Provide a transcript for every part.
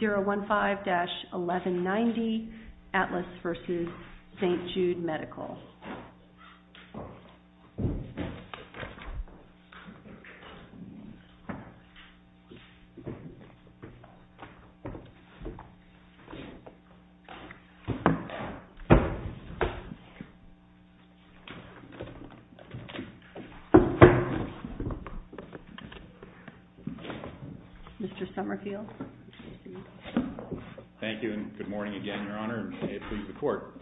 015-1190, Atlas v. St. Jude Medical. Thank you and good morning again, Your Honor, and may it please the Court.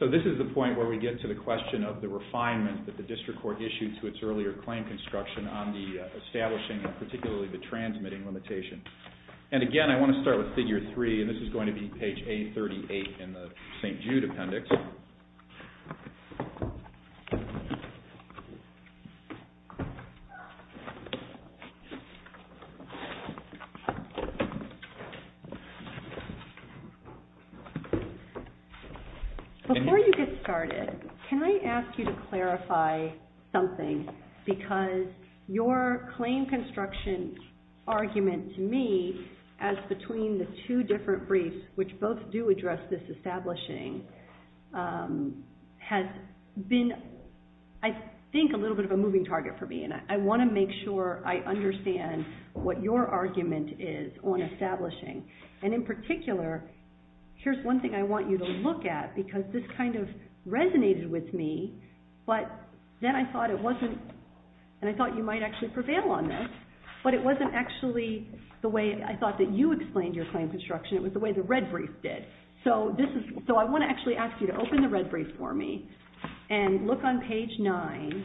So this is the point where we get to the question of the refinement that the District Court issued to its earlier claim construction on the establishing and particularly the transmitting limitation. And again, I want to start with Figure 3 and this is going to be page 838 in the St. Jude Before you get started, can I ask you to clarify something because your claim construction argument to me as between the two different briefs, which both do address this establishing, has been, I think, a little bit of a moving target for me and I want to make sure I understand what your argument is on establishing. And in particular, here's one thing I want you to look at because this kind of resonated with me, but then I thought it wasn't, and I thought you might actually prevail on this, but it wasn't actually the way I thought that you explained your claim construction. It was the way the red brief did. So I want to actually ask you to open the red brief for me and look on page 9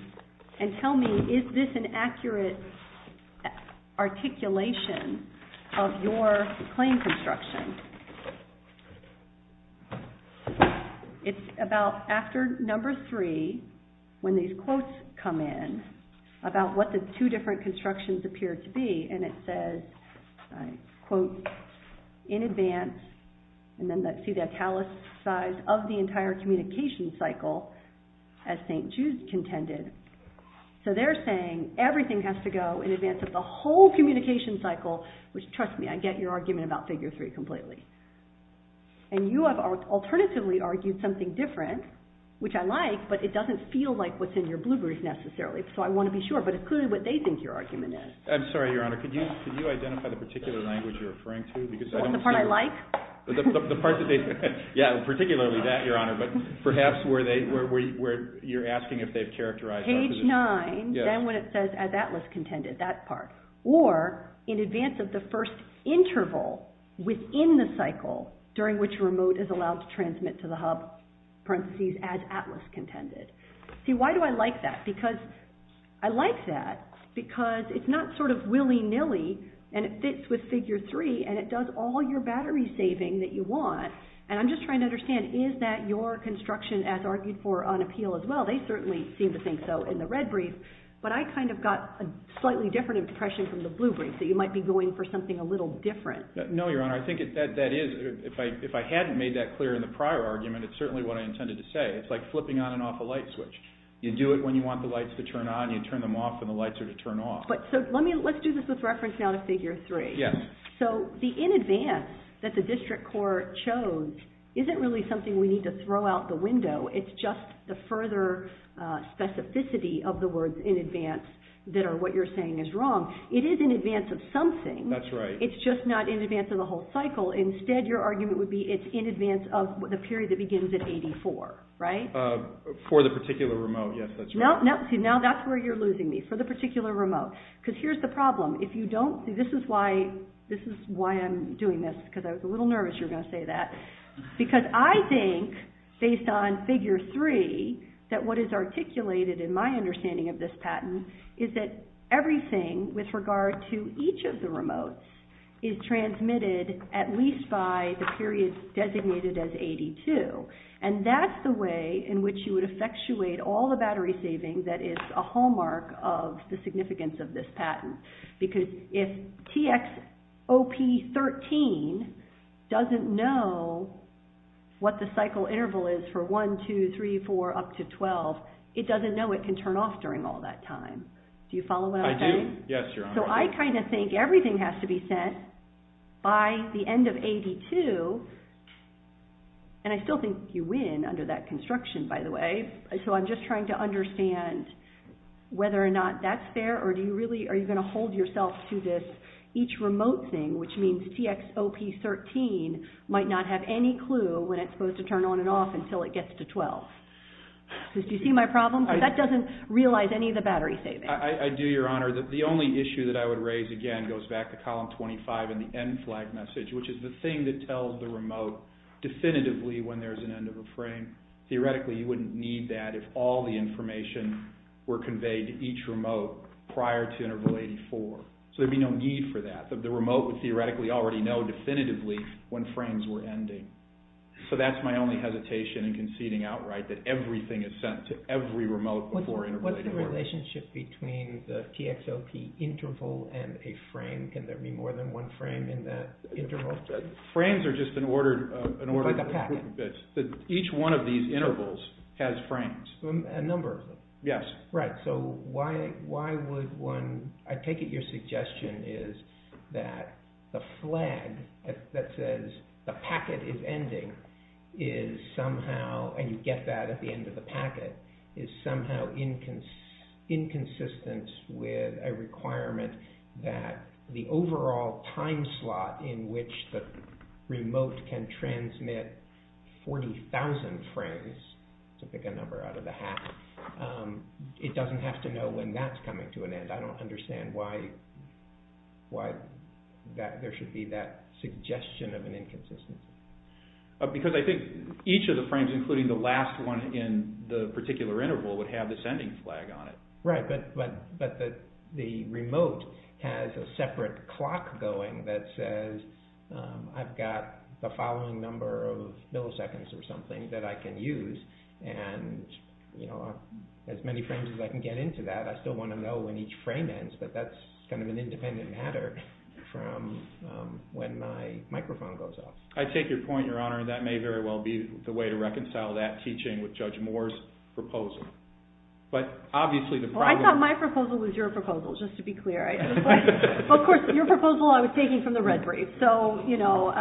and tell me, is this an accurate articulation of your claim construction? It's about after number 3 when these quotes come in about what the two different constructions appear to be and it says, in advance, and then see the italicized of the entire communication cycle as St. Jude contended. So they're saying everything has to go in advance of the whole communication cycle, which, trust me, I get your argument about figure 3 completely, and you have alternatively argued something different, which I like, but it doesn't feel like what's in your blue brief necessarily, so I want to be sure, but it's clearly what they think your argument is. I'm sorry, Your Honor. Could you identify the particular language you're referring to? The part I like? The part that they, yeah, particularly that, Your Honor, but perhaps where you're asking if they've characterized that position. Page 9, then when it says, as Atlas contended, that part, or in advance of the first interval within the cycle during which remote is allowed to transmit to the hub, parentheses, as Atlas contended. See, why do I like that? Because I like that because it's not sort of willy-nilly and it fits with figure 3 and it does all your battery saving that you want, and I'm just trying to understand, is that your construction as argued for on appeal as well? They certainly seem to think so in the red brief, but I kind of got a slightly different impression from the blue brief, that you might be going for something a little different. No, Your Honor. I think that is, if I hadn't made that clear in the prior argument, it's certainly what I intended to say. It's like flipping on and off a light switch. You do it when you want the lights to turn on, you turn them off when the lights are to turn off. So let's do this with reference now to figure 3. Yes. So the in advance that the district court chose isn't really something we need to throw out the window. It's just the further specificity of the words in advance that are what you're saying is wrong. It is in advance of something. That's right. It's just not in advance of the whole cycle. Instead your argument would be it's in advance of the period that begins at 84, right? For the particular remote, yes, that's right. No, no. See, now that's where you're losing me. For the particular remote. Because here's the problem. If you don't, see this is why, this is why I'm doing this because I was a little nervous you were going to say that because I think based on figure 3 that what is articulated in my understanding of this patent is that everything with regard to each of the remotes is transmitted at least by the period designated as 82. And that's the way in which you would effectuate all the battery savings that is a hallmark of the significance of this patent. Because if TXOP13 doesn't know what the cycle interval is for 1, 2, 3, 4, up to 12, it doesn't know it can turn off during all that time. Do you follow what I'm saying? I do. Yes, Your Honor. So I kind of think everything has to be sent by the end of 82, and I still think you win under that construction, by the way. So I'm just trying to understand whether or not that's fair, or do you really, are you going to hold yourself to this, each remote thing, which means TXOP13 might not have any clue when it's supposed to turn on and off until it gets to 12. Do you see my problem? That doesn't realize any of the battery savings. I do, Your Honor. The only issue that I would raise, again, goes back to column 25 in the end flag message, which is the thing that tells the remote definitively when there's an end of a frame. Theoretically, you wouldn't need that if all the information were conveyed to each remote prior to interval 84. So there'd be no need for that. The remote would theoretically already know definitively when frames were ending. So that's my only hesitation in conceding outright that everything is sent to every remote before interval 84. What's the relationship between the TXOP interval and a frame? Can there be more than one frame in that interval? Frames are just an order of magnitude. Each one of these intervals has frames. A number of them. Yes. Right. So why would one, I take it your suggestion is that the flag that says the packet is ending is somehow, and you get that at the end of the packet, is somehow inconsistent with a the overall time slot in which the remote can transmit 40,000 frames, to pick a number out of the hat, it doesn't have to know when that's coming to an end. I don't understand why there should be that suggestion of an inconsistency. Because I think each of the frames, including the last one in the particular interval, would have the sending flag on it. Right. But the remote has a separate clock going that says I've got the following number of milliseconds or something that I can use, and you know, as many frames as I can get into that, I still want to know when each frame ends, but that's kind of an independent matter from when my microphone goes off. I take your point, Your Honor, and that may very well be the way to reconcile that teaching with Judge Moore's proposal. But obviously the problem... Well, I thought my proposal was your proposal, just to be clear. Of course, your proposal I was taking from the Red Braids, so, you know,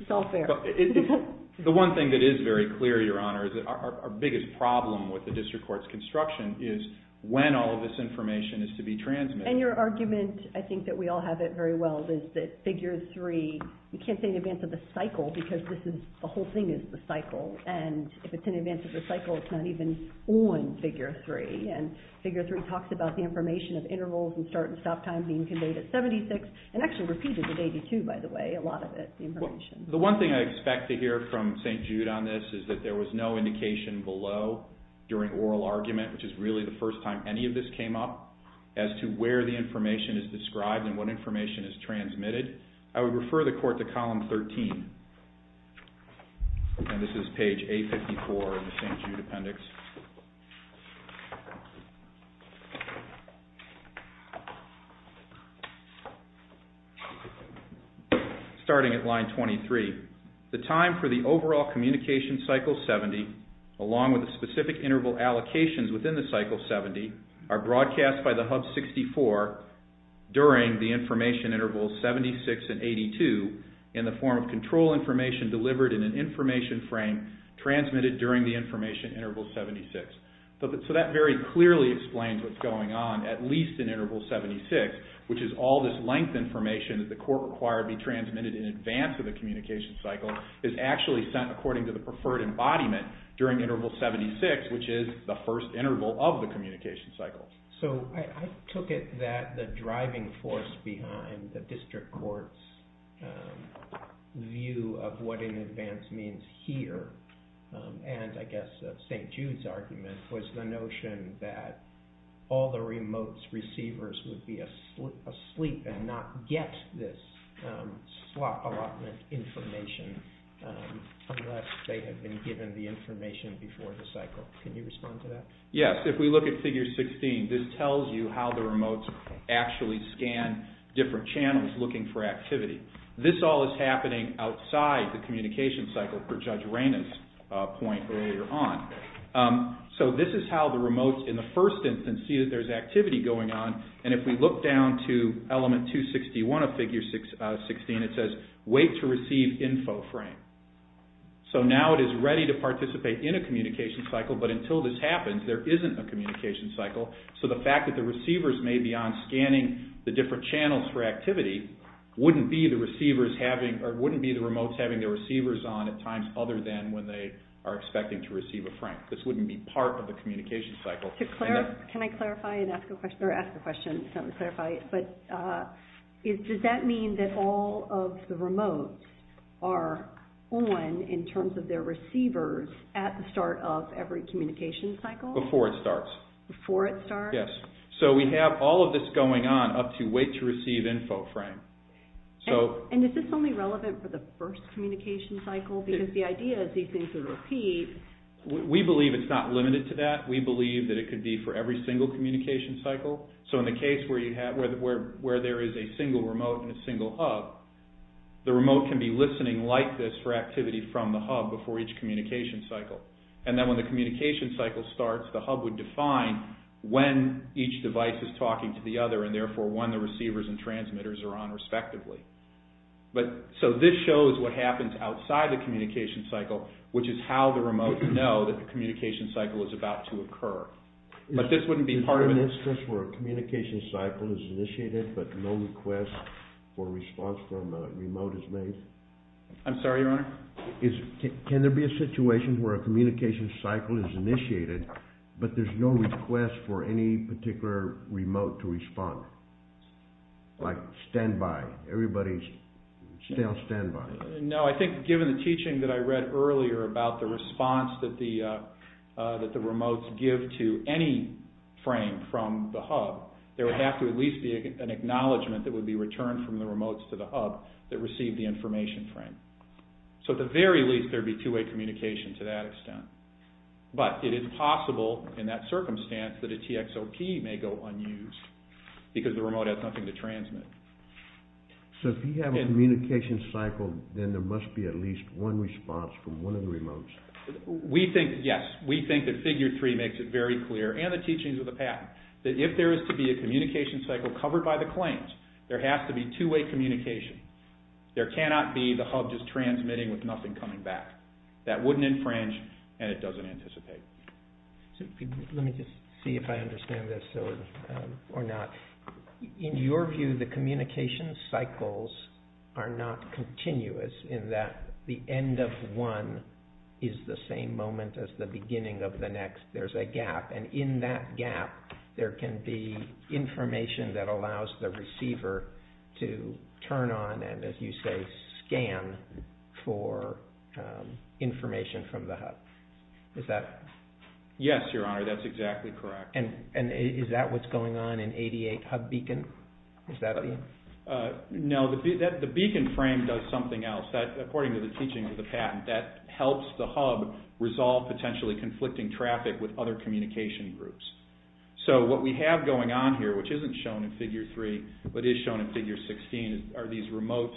it's all fair. The one thing that is very clear, Your Honor, is that our biggest problem with the district court's construction is when all of this information is to be transmitted. And your argument, I think that we all have it very well, is that figure three, you can't say in advance of the cycle, because this is, the whole thing is the cycle, and if it's in advance of the cycle, it's not even on figure three. And figure three talks about the information of intervals and start and stop time being conveyed at 76, and actually repeated at 82, by the way, a lot of it, the information. The one thing I expect to hear from St. Jude on this is that there was no indication below during oral argument, which is really the first time any of this came up, as to where the information is described and what information is transmitted. I would refer the court to column 13, and this is page 854 of the St. Jude Appendix. Starting at line 23, the time for the overall communication cycle 70, along with the specific interval allocations within the cycle 70, are broadcast by the Hub 64 during the information intervals 76 and 82, in the form of control information delivered in an information frame transmitted during the information interval 76. So that very clearly explains what's going on, at least in interval 76, which is all this length information that the court required to be transmitted in advance of the communication cycle, is actually sent according to the preferred embodiment during interval 76, which is the first interval of the communication cycle. So I took it that the driving force behind the district court's view of what in advance means here, and I guess St. Jude's argument, was the notion that all the remote receivers would be asleep and not get this slot allotment information unless they had been given the information before the cycle. Can you respond to that? Yes, if we look at figure 16, this tells you how the remotes actually scan different channels looking for activity. This all is happening outside the communication cycle, per Judge Reyna's point earlier on. So this is how the remotes in the first instance see that there's activity going on, and if we look down to element 261 of figure 16, it says, wait to receive info frame. So now it is ready to participate in a communication cycle, but until this happens, there isn't a communication cycle, so the fact that the receivers may be on scanning the different channels for activity wouldn't be the remotes having their receivers on at times other than when they are expecting to receive a frame. This wouldn't be part of the communication cycle. Can I clarify and ask a question, or ask a question, but does that mean that all of the remotes are on in terms of their receivers at the start of every communication cycle? Before it starts. Before it starts? Yes. So we have all of this going on up to wait to receive info frame, so... And is this only relevant for the first communication cycle? Because the idea is these things would repeat. We believe it's not limited to that. We believe that it could be for every single communication cycle. So in the case where there is a single remote and a single hub, the remote can be listening like this for activity from the hub before each communication cycle. And then when the communication cycle starts, the hub would define when each device is talking to the other, and therefore when the receivers and transmitters are on respectively. So this shows what happens outside the communication cycle, which is how the remotes know that the communication cycle is about to occur. But this wouldn't be part of... Is there an instance where a communication cycle is initiated, but no request or response from a remote is made? I'm sorry, Your Honor? Can there be a situation where a communication cycle is initiated, but there's no request for any particular remote to respond? Like standby, everybody's still on standby? No, I think given the teaching that I read earlier about the response that the remotes give to any frame from the hub, there would have to at least be an acknowledgement that it would be returned from the remotes to the hub that received the information frame. So at the very least, there'd be two-way communication to that extent. But it is possible in that circumstance that a TXOP may go unused because the remote has nothing to transmit. So if you have a communication cycle, then there must be at least one response from one of the remotes? We think, yes. We think that Figure 3 makes it very clear, and the teachings of the patent, that if there is to be a communication cycle covered by the claims, there has to be two-way communication. There cannot be the hub just transmitting with nothing coming back. That wouldn't infringe, and it doesn't anticipate. Let me just see if I understand this or not. In your view, the communication cycles are not continuous in that the end of one is the same moment as the beginning of the next. There's a gap, and in that gap, there can be information that allows the receiver to turn on and, as you say, scan for information from the hub. Is that... Yes, Your Honor. That's exactly correct. And is that what's going on in 88 Hub Beacon? Is that the... No. The beacon frame does something else. According to the teachings of the patent, that helps the hub resolve potentially conflicting traffic with other communication groups. So what we have going on here, which isn't shown in Figure 3, but is shown in Figure 16, are these remote,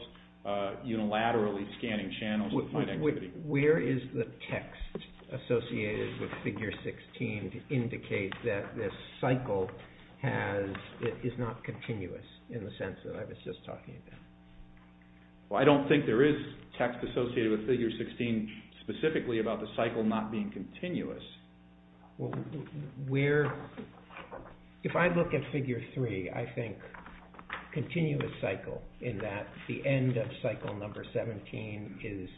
unilaterally scanning channels to find activity. Where is the text associated with Figure 16 to indicate that this cycle is not continuous in the sense that I was just talking about? Well, I don't think there is text associated with Figure 16 specifically about the cycle not being continuous. Well, where... If I look at Figure 3, I think continuous cycle in that the end of cycle number 17 is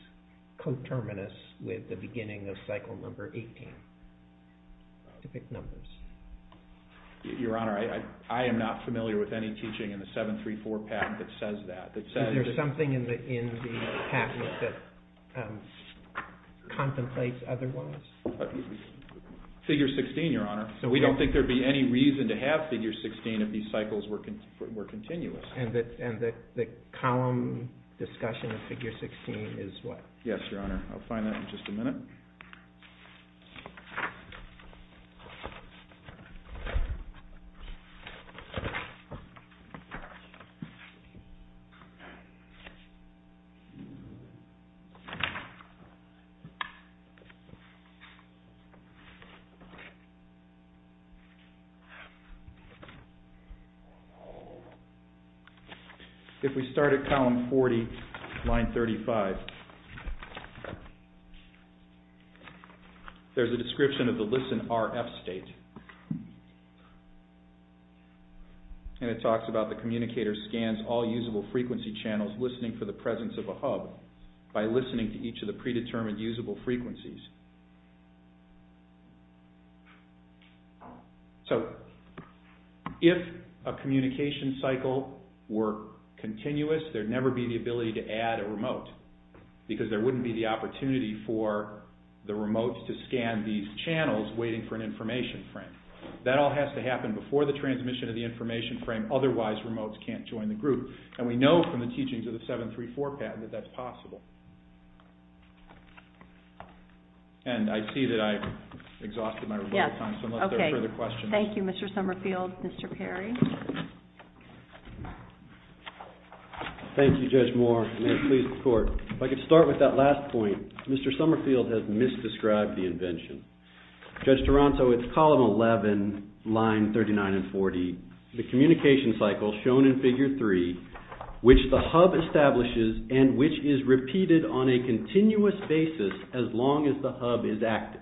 coterminous with the beginning of cycle number 18, specific numbers. Your Honor, I am not familiar with any teaching in the 734 patent that says that. Is there something in the patent that contemplates otherwise? Figure 16, Your Honor. So we don't think there'd be any reason to have Figure 16 if these cycles were continuous. And the column discussion of Figure 16 is what? Yes, Your Honor. I'll find that in just a minute. If we start at column 40, line 35, there's a description of the LISN RF state, and it says, if a communication cycle were continuous, there'd never be the ability to add a remote. Because there wouldn't be the opportunity for the remote to scan these channels waiting for an information frame. That all has to happen before the transmission of the information frame, otherwise remotes can't join the group. And we know from the teachings of the 734 patent that that's possible. And I see that I've exhausted my rebuttal time, so unless there are further questions. Thank you, Mr. Summerfield. Mr. Perry? Thank you, Judge Moore. May it please the Court. If I could start with that last point, Mr. Summerfield has misdescribed the invention. Judge Toronto, it's column 11, line 39 and 40. The communication cycle shown in figure 3, which the hub establishes and which is repeated on a continuous basis as long as the hub is active.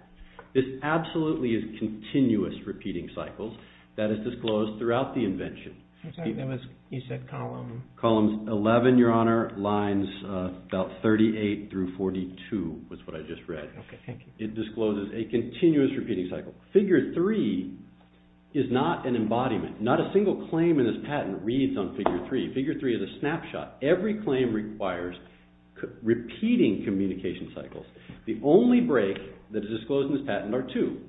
This absolutely is continuous repeating cycles. That is disclosed throughout the invention. I'm sorry, that was, you said column? Columns 11, Your Honor, lines about 38 through 42, was what I just read. Okay, thank you. It discloses a continuous repeating cycle. Figure 3 is not an embodiment. Not a single claim in this patent reads on figure 3. Figure 3 is a snapshot. Every claim requires repeating communication cycles. The only break that is disclosed in this patent are two,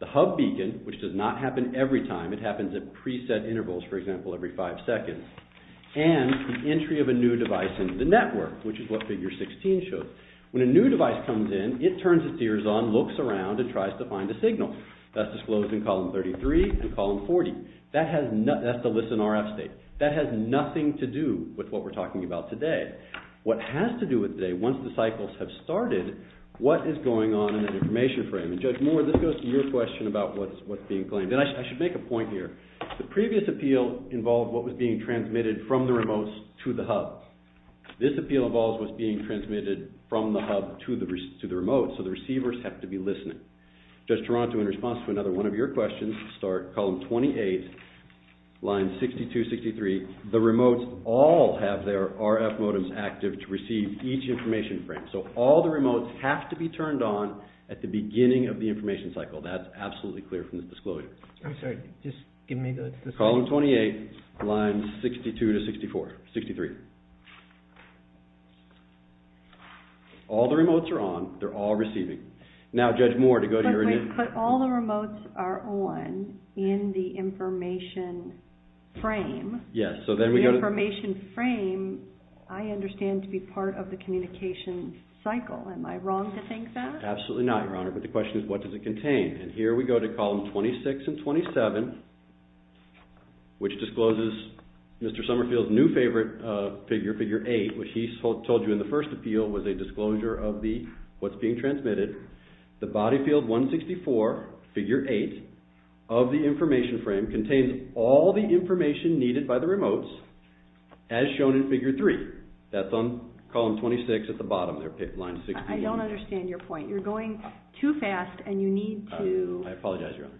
the hub beacon, which does not happen every time, it happens at preset intervals, for example, every five seconds, and the entry of a new device in the network, which is what figure 16 shows. When a new device comes in, it turns its ears on, looks around, and tries to find a signal. That's disclosed in column 33 and column 40. That has nothing, that's the listen RF state. That has nothing to do with what we're talking about today. What has to do with today, once the cycles have started, what is going on in the information frame? And Judge Moore, this goes to your question about what's being claimed. And I should make a point here. The previous appeal involved what was being transmitted from the remotes to the hub. This appeal involves what's being transmitted from the hub to the remote, so the receivers have to be listening. Judge Taranto, in response to another one of your questions, start column 28, line 62-63. The remotes all have their RF modems active to receive each information frame. So all the remotes have to be turned on at the beginning of the information cycle. That's absolutely clear from this disclosure. I'm sorry. Just give me the... Column 28, line 62-63. All the remotes are on. They're all receiving. Now, Judge Moore, to go to your... But wait. But all the remotes are on in the information frame. Yes. So then we go to... The information frame, I understand, to be part of the communication cycle. Am I wrong to think that? Absolutely not, Your Honor. But the question is, what does it contain? And here we go to column 26 and 27, which discloses Mr. Summerfield's new favorite figure, figure 8, which he told you in the first appeal was a disclosure of what's being transmitted. The body field 164, figure 8, of the information frame contains all the information needed by the remotes, as shown in figure 3. That's on column 26 at the bottom there, line 62. I don't understand your point. You're going too fast and you need to... I apologize, Your Honor.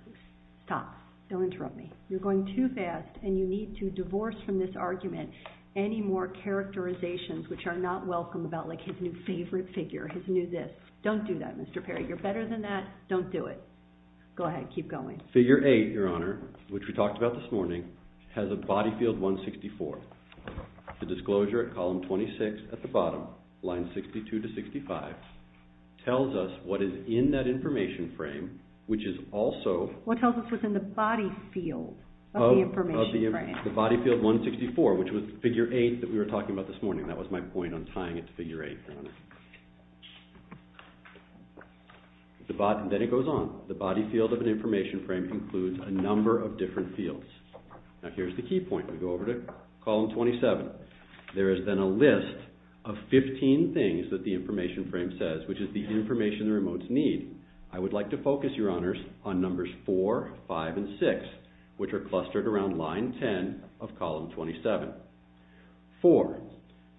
Stop. Don't interrupt me. You're going too fast and you need to divorce from this argument any more characterizations which are not welcome about, like, his new favorite figure, his new this. Don't do that, Mr. Perry. You're better than that. Don't do it. Go ahead. Keep going. Figure 8, Your Honor, which we talked about this morning, has a body field 164. The disclosure at column 26 at the bottom, line 62 to 65, tells us what is in that information frame, which is also... What tells us what's in the body field of the information frame. The body field 164, which was figure 8 that we were talking about this morning. That was my point on tying it to figure 8, Your Honor. Then it goes on. The body field of an information frame includes a number of different fields. Now, here's the key point. We go over to column 27. There is then a list of 15 things that the information frame says, which is the information the remotes need. I would like to focus, Your Honors, on numbers 4, 5, and 6, which are clustered around line 10 of column 27. 4,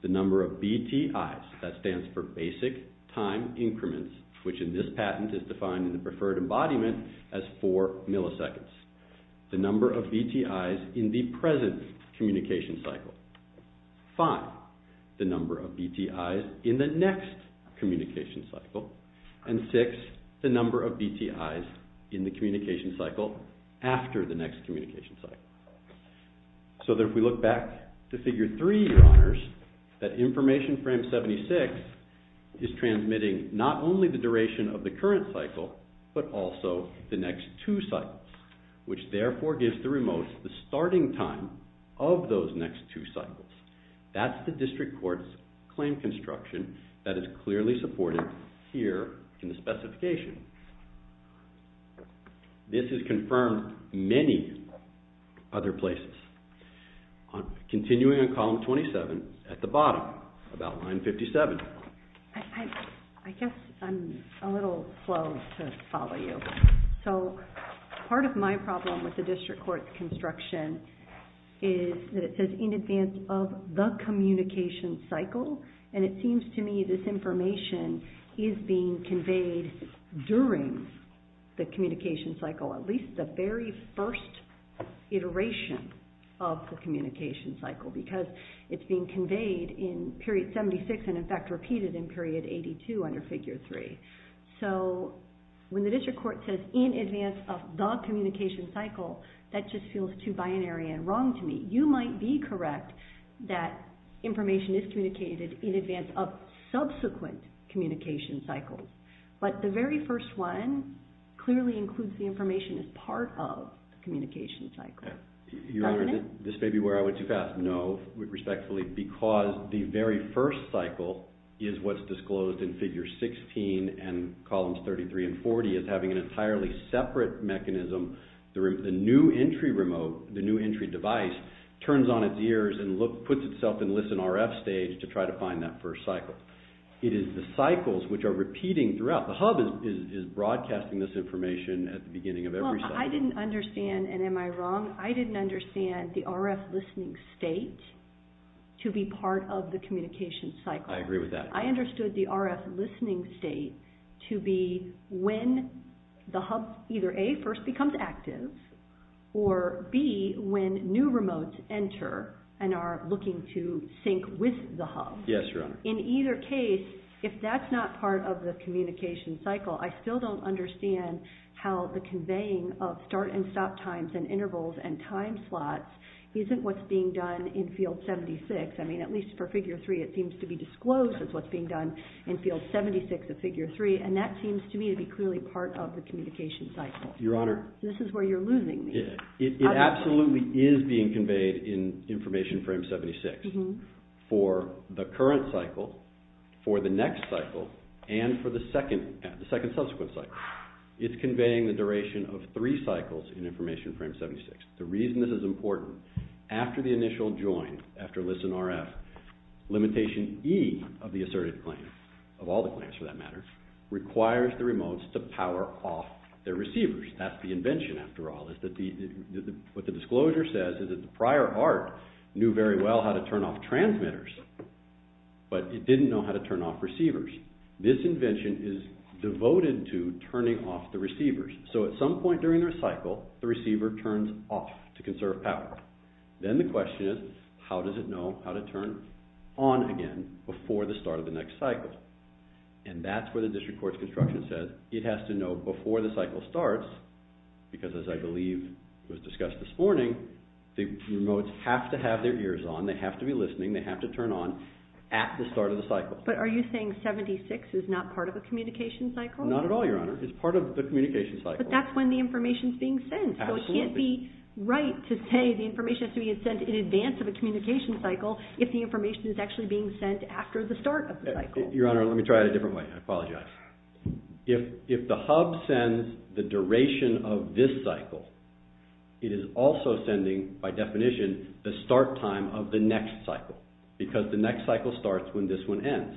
the number of BTIs. That stands for basic time increments, which in this patent is defined in the preferred embodiment as 4 milliseconds. The number of BTIs in the present communication cycle. 5, the number of BTIs in the next communication cycle. And 6, the number of BTIs in the communication cycle after the next communication cycle. So that if we look back to figure 3, Your Honors, that information frame 76 is transmitting not only the duration of the current cycle, but also the next two cycles, which therefore gives the remotes the starting time of those next two cycles. That's the district court's claim construction that is clearly supported here in the specification. This is confirmed many other places. Continuing on column 27, at the bottom, about line 57. I guess I'm a little slow to follow you. So part of my problem with the district court's construction is that it says in advance of the communication cycle, and it seems to me this information is being conveyed during the communication cycle, at least the very first iteration of the communication cycle, because it's being conveyed in period 76, and in fact repeated in period 82 under figure 3. So when the district court says in advance of the communication cycle, that just feels too binary and wrong to me. You might be correct that information is communicated in advance of subsequent communication cycles. But the very first one clearly includes the information as part of the communication cycle. Your Honor, this may be where I went too fast. No, respectfully, because the very first cycle is what's disclosed in figure 16 and columns 33 and 40 as having an entirely separate mechanism. The new entry remote, the new entry device, turns on its ears and puts itself in listen RF stage to try to find that first cycle. It is the cycles which are repeating throughout. The hub is broadcasting this information at the beginning of every cycle. Well, I didn't understand, and am I wrong? I didn't understand the RF listening state to be part of the communication cycle. I agree with that. I understood the RF listening state to be when the hub, either A, first becomes active, or B, when new remotes enter and are looking to sync with the hub. Yes, Your Honor. In either case, if that's not part of the communication cycle, I still don't understand how the conveying of start and stop times and intervals and time slots isn't what's being done in field 76. I mean, at least for figure 3, it seems to be disclosed as what's being done in field 76 of figure 3, and that seems to me to be clearly part of the communication cycle. Your Honor. This is where you're losing me. It absolutely is being conveyed in information frame 76 for the current cycle, for the next cycle, and for the second subsequent cycle. It's conveying the duration of three cycles in information frame 76. The reason this is important, after the initial join, after listen RF, limitation E of the assertive claim, of all the claims for that matter, requires the remotes to power off their receivers. That's the invention, after all, is that what the disclosure says is that the prior ART knew very well how to turn off transmitters, but it didn't know how to turn off receivers. This invention is devoted to turning off the receivers. So at some point during the cycle, the receiver turns off to conserve power. Then the question is, how does it know how to turn on again before the start of the next cycle? And that's where the district court's construction says it has to know before the cycle starts, because as I believe was discussed this morning, the remotes have to have their ears on, they have to be listening, they have to turn on at the start of the cycle. But are you saying 76 is not part of the communication cycle? Not at all, Your Honor. It's part of the communication cycle. But that's when the information's being sent. Absolutely. So it can't be right to say the information has to be sent in advance of a communication cycle if the information is actually being sent after the start of the cycle. Your Honor, let me try it a different way. I apologize. If the hub sends the duration of this cycle, it is also sending, by definition, the start time of the next cycle, because the next cycle starts when this one ends.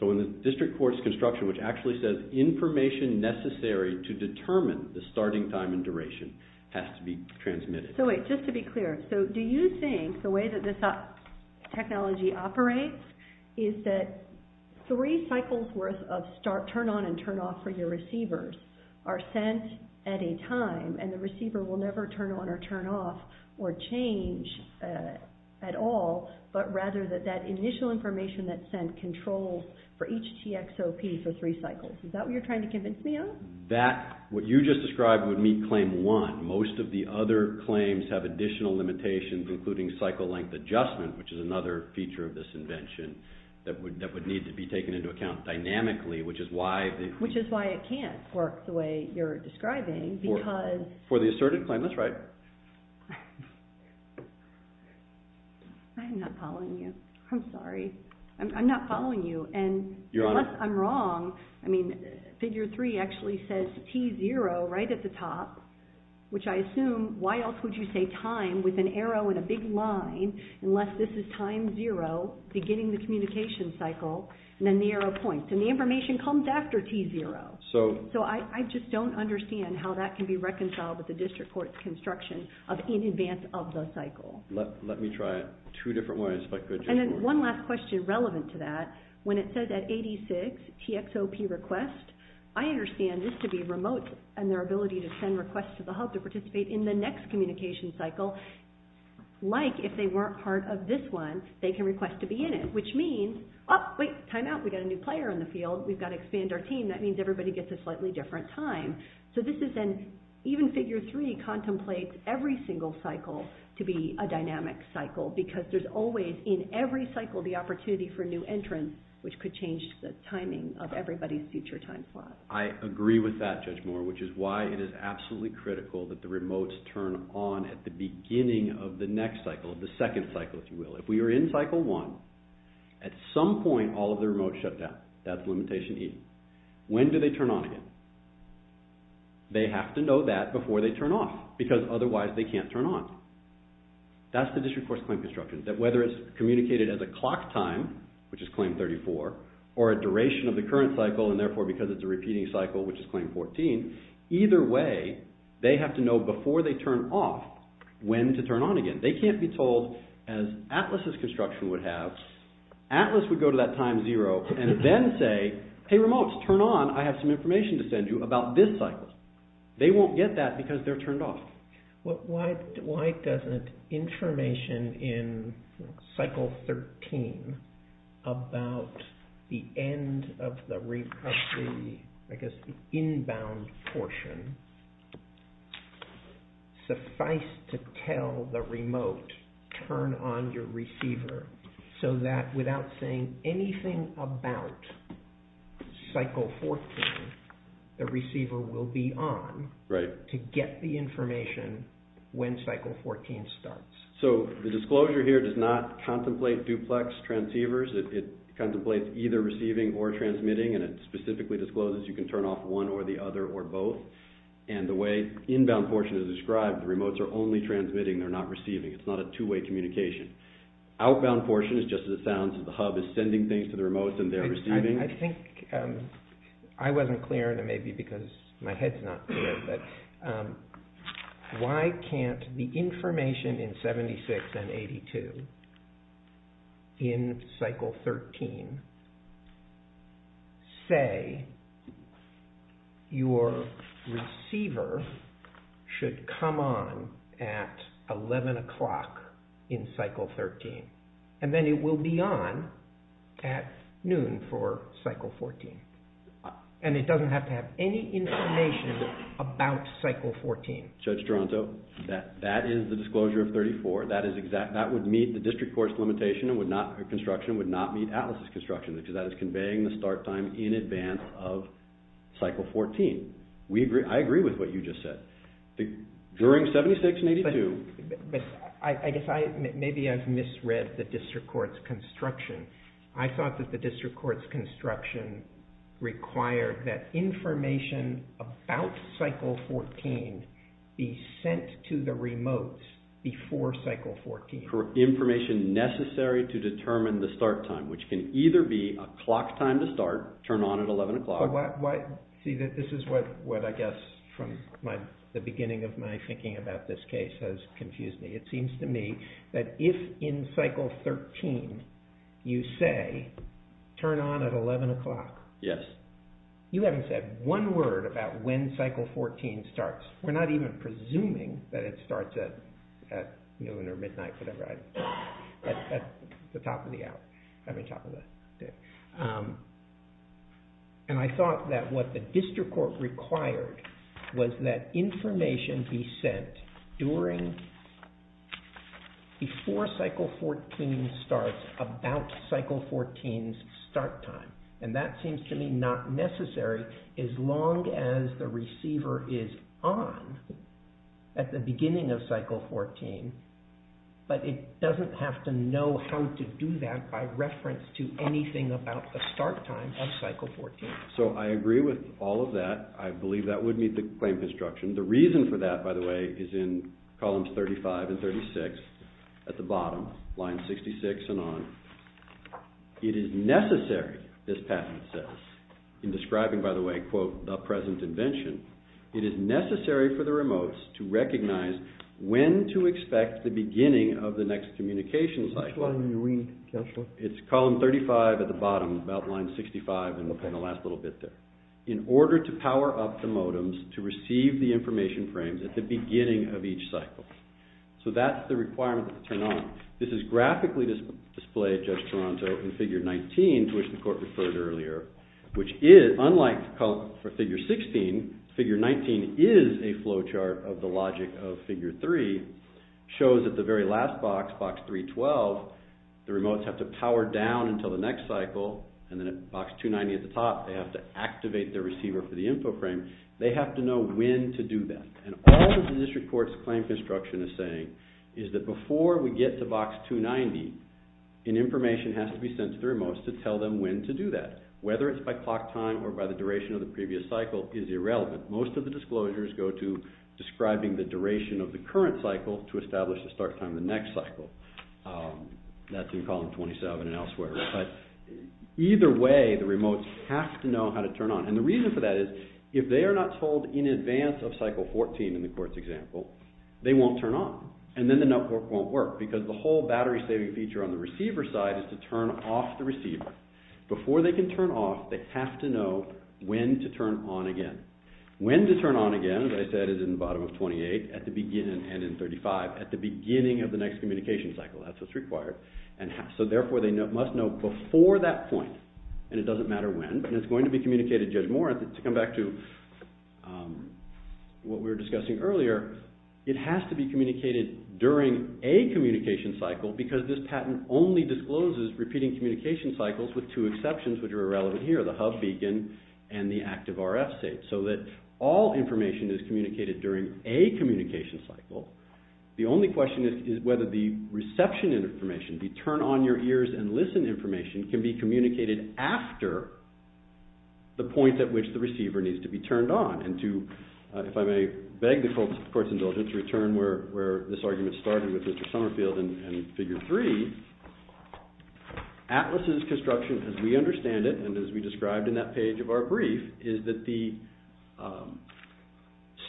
So in the district court's construction, which actually says information necessary to determine the starting time and duration has to be transmitted. So wait, just to be clear. So do you think the way that this technology operates is that three cycles worth of turn on and turn off for your receivers are sent at a time, and the receiver will never turn on or turn off or change at all, but rather that that initial information that's sent controls for each TXOP for three cycles? Is that what you're trying to convince me of? That, what you just described, would meet Claim 1. Most of the other claims have additional limitations, including cycle length adjustment, which is another feature of this invention that would need to be taken into account dynamically, which is why... Which is why it can't work the way you're describing, because... For the asserted claim, that's right. I'm not following you. I'm sorry. I'm not following you, and unless I'm wrong, I mean, Figure 3 actually says T0 right at the top, which I assume, why else would you say time with an arrow and a big line unless this is time zero, beginning the communication cycle, and then the arrow points, and the information comes after T0. So I just don't understand how that can be reconciled with the district court's construction of in advance of the cycle. Let me try it two different ways. And then one last question relevant to that. When it says at 86, TXOP request, I understand this to be remote and their ability to send requests to the hub to participate in the next communication cycle. Like, if they weren't part of this one, they can request to be in it, which means, oh, wait, time out. We've got a new player in the field. We've got to expand our team. That means everybody gets a slightly different time. So this is an even Figure 3 contemplates every single cycle to be a dynamic cycle because there's always in every cycle the opportunity for a new entrance, which could change the timing of everybody's future time slot. I agree with that, Judge Moore, which is why it is absolutely critical that the remotes turn on at the beginning of the next cycle, the second cycle, if you will. If we are in Cycle 1, at some point all of the remotes shut down. That's limitation E. When do they turn on again? They have to know that before they turn off because otherwise they can't turn on. That's the District Course Claim Construction, that whether it's communicated as a clock time, which is Claim 34, or a duration of the current cycle, and therefore because it's a repeating cycle, which is Claim 14, either way, they have to know before they turn off when to turn on again. They can't be told, as ATLAS's construction would have, ATLAS would go to that time zero and then say, hey remotes, turn on, I have some information to send you about this cycle. They won't get that because they're turned off. Why doesn't information in Cycle 13 about the end of the inbound portion suffice to tell the remote, turn on your receiver so that without saying anything about Cycle 14, the receiver will be on to get the information when Cycle 14 starts? The disclosure here does not contemplate duplex transceivers. It contemplates either receiving or transmitting and it specifically discloses you can turn off one or the other or both. The way inbound portion is described, the remotes are only transmitting, they're not receiving. It's not a two-way communication. Outbound portion is just the sounds of the hub is sending things to the remotes and they're receiving. I think I wasn't clear and it may be because my head's not clear, but why can't the information in 76 and 82 in Cycle 13 say your receiver should come on at 11 o'clock in Cycle 13 and then it will be on at noon for Cycle 14 and it doesn't have to have any information about Cycle 14? Judge Toronto, that is the disclosure of 34. That would meet the district court's limitation and construction would not meet ATLAS's construction because that is conveying the start time in advance of Cycle 14. I agree with what you just said. During 76 and 82... I guess maybe I've misread the district court's construction. I thought that the district court's construction required that information about Cycle 14 be sent to the remotes before Cycle 14. ...information necessary to determine the start time, which can either be a clock time to start, turn on at 11 o'clock... This is what I guess from the beginning of my thinking about this case has confused me. It seems to me that if in Cycle 13 you say, turn on at 11 o'clock, you haven't said one word about when Cycle 14 starts. We're not even presuming that it starts at noon or midnight. At the top of the hour. And I thought that what the district court required was that information be sent before Cycle 14 starts about Cycle 14's start time. And that seems to me not necessary as long as the receiver is on at the beginning of Cycle 14. But it doesn't have to know how to do that by reference to anything about the start time of Cycle 14. So I agree with all of that. I believe that would meet the claim construction. The reason for that, by the way, is in columns 35 and 36 at the bottom, lines 66 and on. It is necessary, this patent says, in describing, by the way, the present invention, it is necessary for the remotes to recognize when to expect the beginning of the next communication cycle. Which line are you reading, Counselor? It's column 35 at the bottom, about line 65 in the last little bit there. In order to power up the modems to receive the information frames at the beginning of each cycle. So that's the requirement to turn on. This is graphically displayed, Judge Toronto, in Figure 19, to which the Court referred earlier. Which is, unlike for Figure 16, Figure 19 is a flow chart of the logic of Figure 3. Shows at the very last box, Box 312, the remotes have to power down until the next cycle. And then at Box 290 at the top, they have to activate their receiver for the info frame. They have to know when to do that. And all that the District Court's claim construction is saying is that before we get to Box 290, an information has to be sent to the remotes to tell them when to do that. Whether it's by clock time or by the duration of the previous cycle is irrelevant. Most of the disclosures go to describing the duration of the current cycle to establish the start time of the next cycle. That's in column 27 and elsewhere. But either way, the remotes have to know how to turn on. And the reason for that is, if they are not told in advance of cycle 14 in the Court's example, they won't turn on. And then the network won't work. Because the whole battery-saving feature on the receiver side is to turn off the receiver. Before they can turn off, they have to know when to turn on again. When to turn on again, as I said, is in the bottom of 28, at the beginning, and in 35, at the beginning of the next communication cycle. That's what's required. So therefore, they must know before that point. And it doesn't matter when. And it's going to be communicated, Judge Moran, to come back to what we were discussing earlier. It has to be communicated during a communication cycle because this patent only discloses repeating communication cycles with two exceptions, which are irrelevant here, the hub beacon and the active RF state. So that all information is communicated during a communication cycle. The only question is whether the reception information, the turn-on-your-ears-and-listen information, can be communicated after the point at which the receiver needs to be turned on. If I may beg the Court's indulgence to return where this argument started with Mr. Summerfield and Figure 3, ATLAS's construction, as we understand it, and as we described in that page of our brief, is that the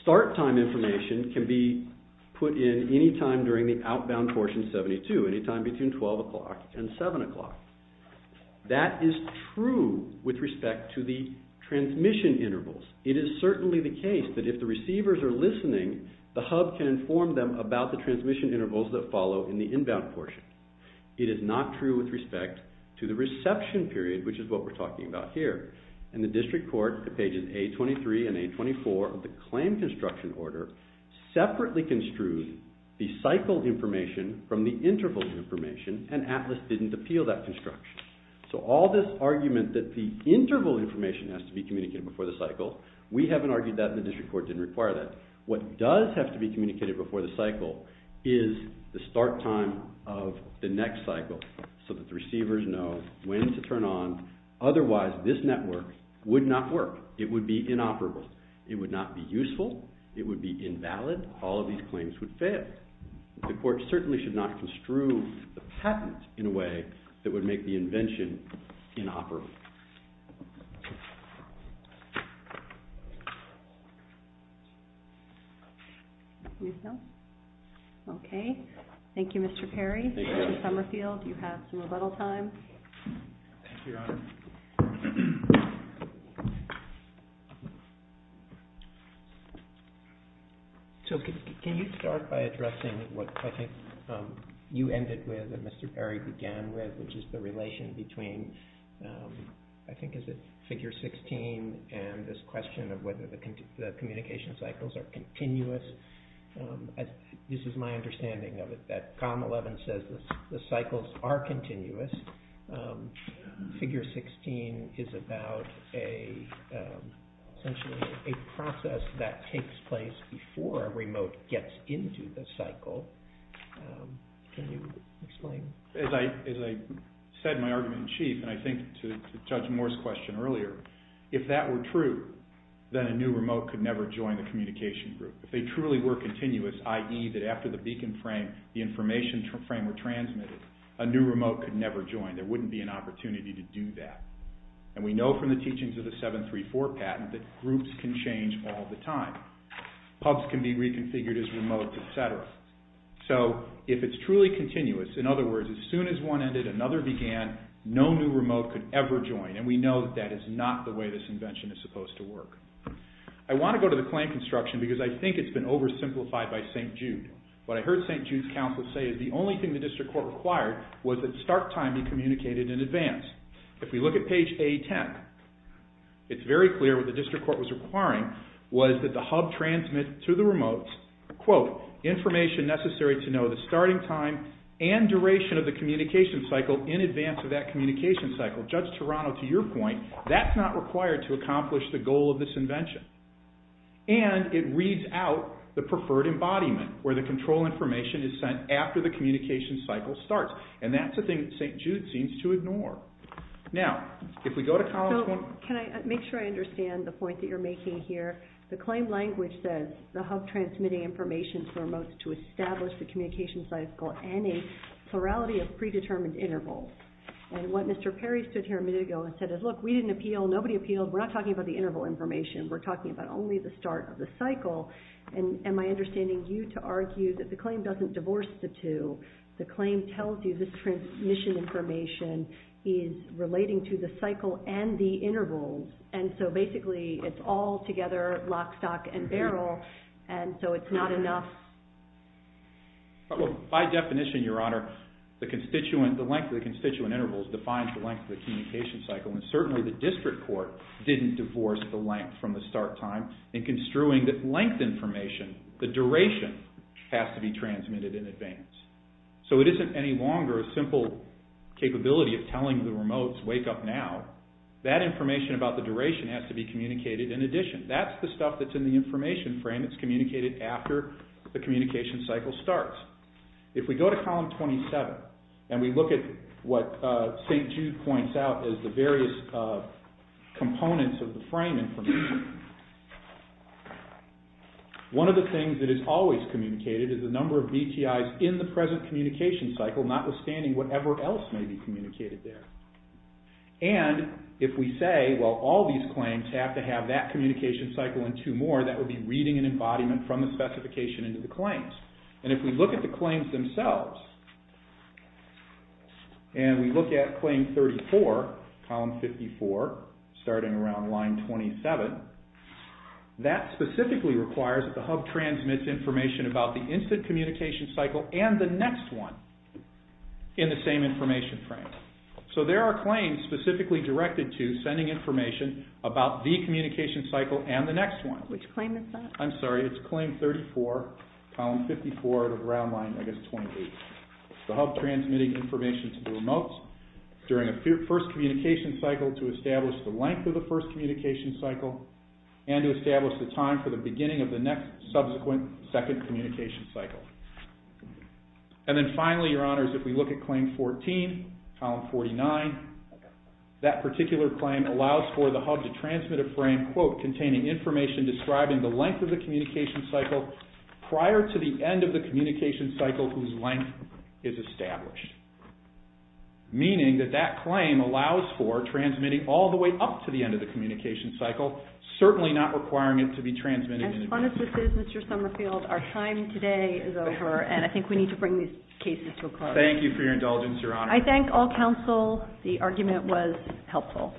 start time information can be put in any time during the outbound portion 72, any time between 12 o'clock and 7 o'clock. That is true with respect to the transmission intervals. It is certainly the case that if the receivers are listening, the hub can inform them about the transmission intervals that follow in the inbound portion. It is not true with respect to the reception period, which is what we're talking about here. In the District Court, the pages A23 and A24 of the claim construction order separately construed the cycle information from the interval information, and ATLAS didn't appeal that construction. So all this argument that the interval information has to be communicated before the cycle, we haven't argued that and the District Court didn't require that. What does have to be communicated before the cycle is the start time of the next cycle so that the receivers know when to turn on, otherwise this network would not work. It would be inoperable. It would not be useful. It would be invalid. All of these claims would fail. The Court certainly should not construe the patent in a way that would make the invention inoperable. Thank you. Okay. Thank you, Mr. Perry. Mr. Summerfield, you have some rebuttal time. Thank you, Your Honor. So can you start by addressing what I think you ended with and Mr. Perry began with, which is the relation between, I think, is it figure 16 and this question of whether the communication cycles are continuous. This is my understanding of it, that COM 11 says the cycles are continuous. Figure 16 is about a process that takes place before a remote gets into the cycle. Can you explain? As I said in my argument in chief, and I think to Judge Moore's question earlier, if that were true, then a new remote could never join the communication group. If they truly were continuous, i.e., that after the beacon frame, the information frame were transmitted, a new remote could never join. There wouldn't be an opportunity to do that. And we know from the teachings of the 734 patent that groups can change all the time. Pubs can be reconfigured as remote, et cetera. So if it's truly continuous, in other words, as soon as one ended, another began, no new remote could ever join. And we know that that is not the way this invention is supposed to work. I want to go to the claim construction because I think it's been oversimplified by St. Jude. What I heard St. Jude's counsel say is the only thing the district court required was that start timing communicated in advance. If we look at page A10, it's very clear what the district court was requiring was that the hub transmit to the remotes, quote, information necessary to know the starting time and duration of the communication cycle in advance of that communication cycle. Judge Toronto, to your point, that's not required to accomplish the goal of this invention. And it reads out the preferred embodiment where the control information is sent after the communication cycle starts. And that's a thing that St. Jude seems to ignore. Now, if we go to College Point... Can I make sure I understand the point that you're making here? The claim language says the hub transmitting information to the remotes to establish the communication cycle and a plurality of predetermined intervals. And what Mr. Perry stood here a minute ago and said is, look, we didn't appeal, nobody appealed, we're not talking about the interval information, we're talking about only the start of the cycle. And am I understanding you to argue that the claim doesn't divorce the two? The claim tells you this transmission information is relating to the cycle and the intervals, and so basically it's all together, lock, stock, and barrel, and so it's not enough... By definition, Your Honor, the length of the constituent intervals defines the length of the communication cycle, and certainly the district court didn't divorce the length from the start time in construing that length information, the duration, has to be transmitted in advance. So it isn't any longer a simple capability of telling the remotes, wake up now. That information about the duration has to be communicated in addition. That's the stuff that's in the information frame that's communicated after the communication cycle starts. If we go to column 27, and we look at what St. Jude points out as the various components of the frame information, one of the things that is always communicated is the number of BTIs in the present communication cycle, notwithstanding whatever else may be communicated there. And if we say, well, all these claims have to have that communication cycle and two more, that would be reading an embodiment from the specification into the claims. And if we look at the claims themselves, and we look at claim 34, column 54, starting around line 27, that specifically requires that the hub transmits information about the instant communication cycle and the next one in the same information frame. So there are claims specifically directed to sending information about the communication cycle and the next one. Which claim is that? I'm sorry, it's claim 34, column 54, at around line, I guess, 28. The hub transmitting information to the remotes during a first communication cycle to establish the length of the first communication cycle and to establish the time for the beginning of the next subsequent second communication cycle. And then finally, Your Honors, if we look at claim 14, column 49, that particular claim allows for the hub to transmit a frame, quote, containing information describing the length of the communication cycle prior to the end of the communication cycle whose length is established. Meaning that that claim allows for transmitting all the way up to the end of the communication cycle, certainly not requiring it to be transmitted in advance. As fun as this is, Mr. Summerfield, our time today is over, and I think we need to bring these cases to a close. Thank you for your indulgence, Your Honors. I thank all counsel. The argument was helpful.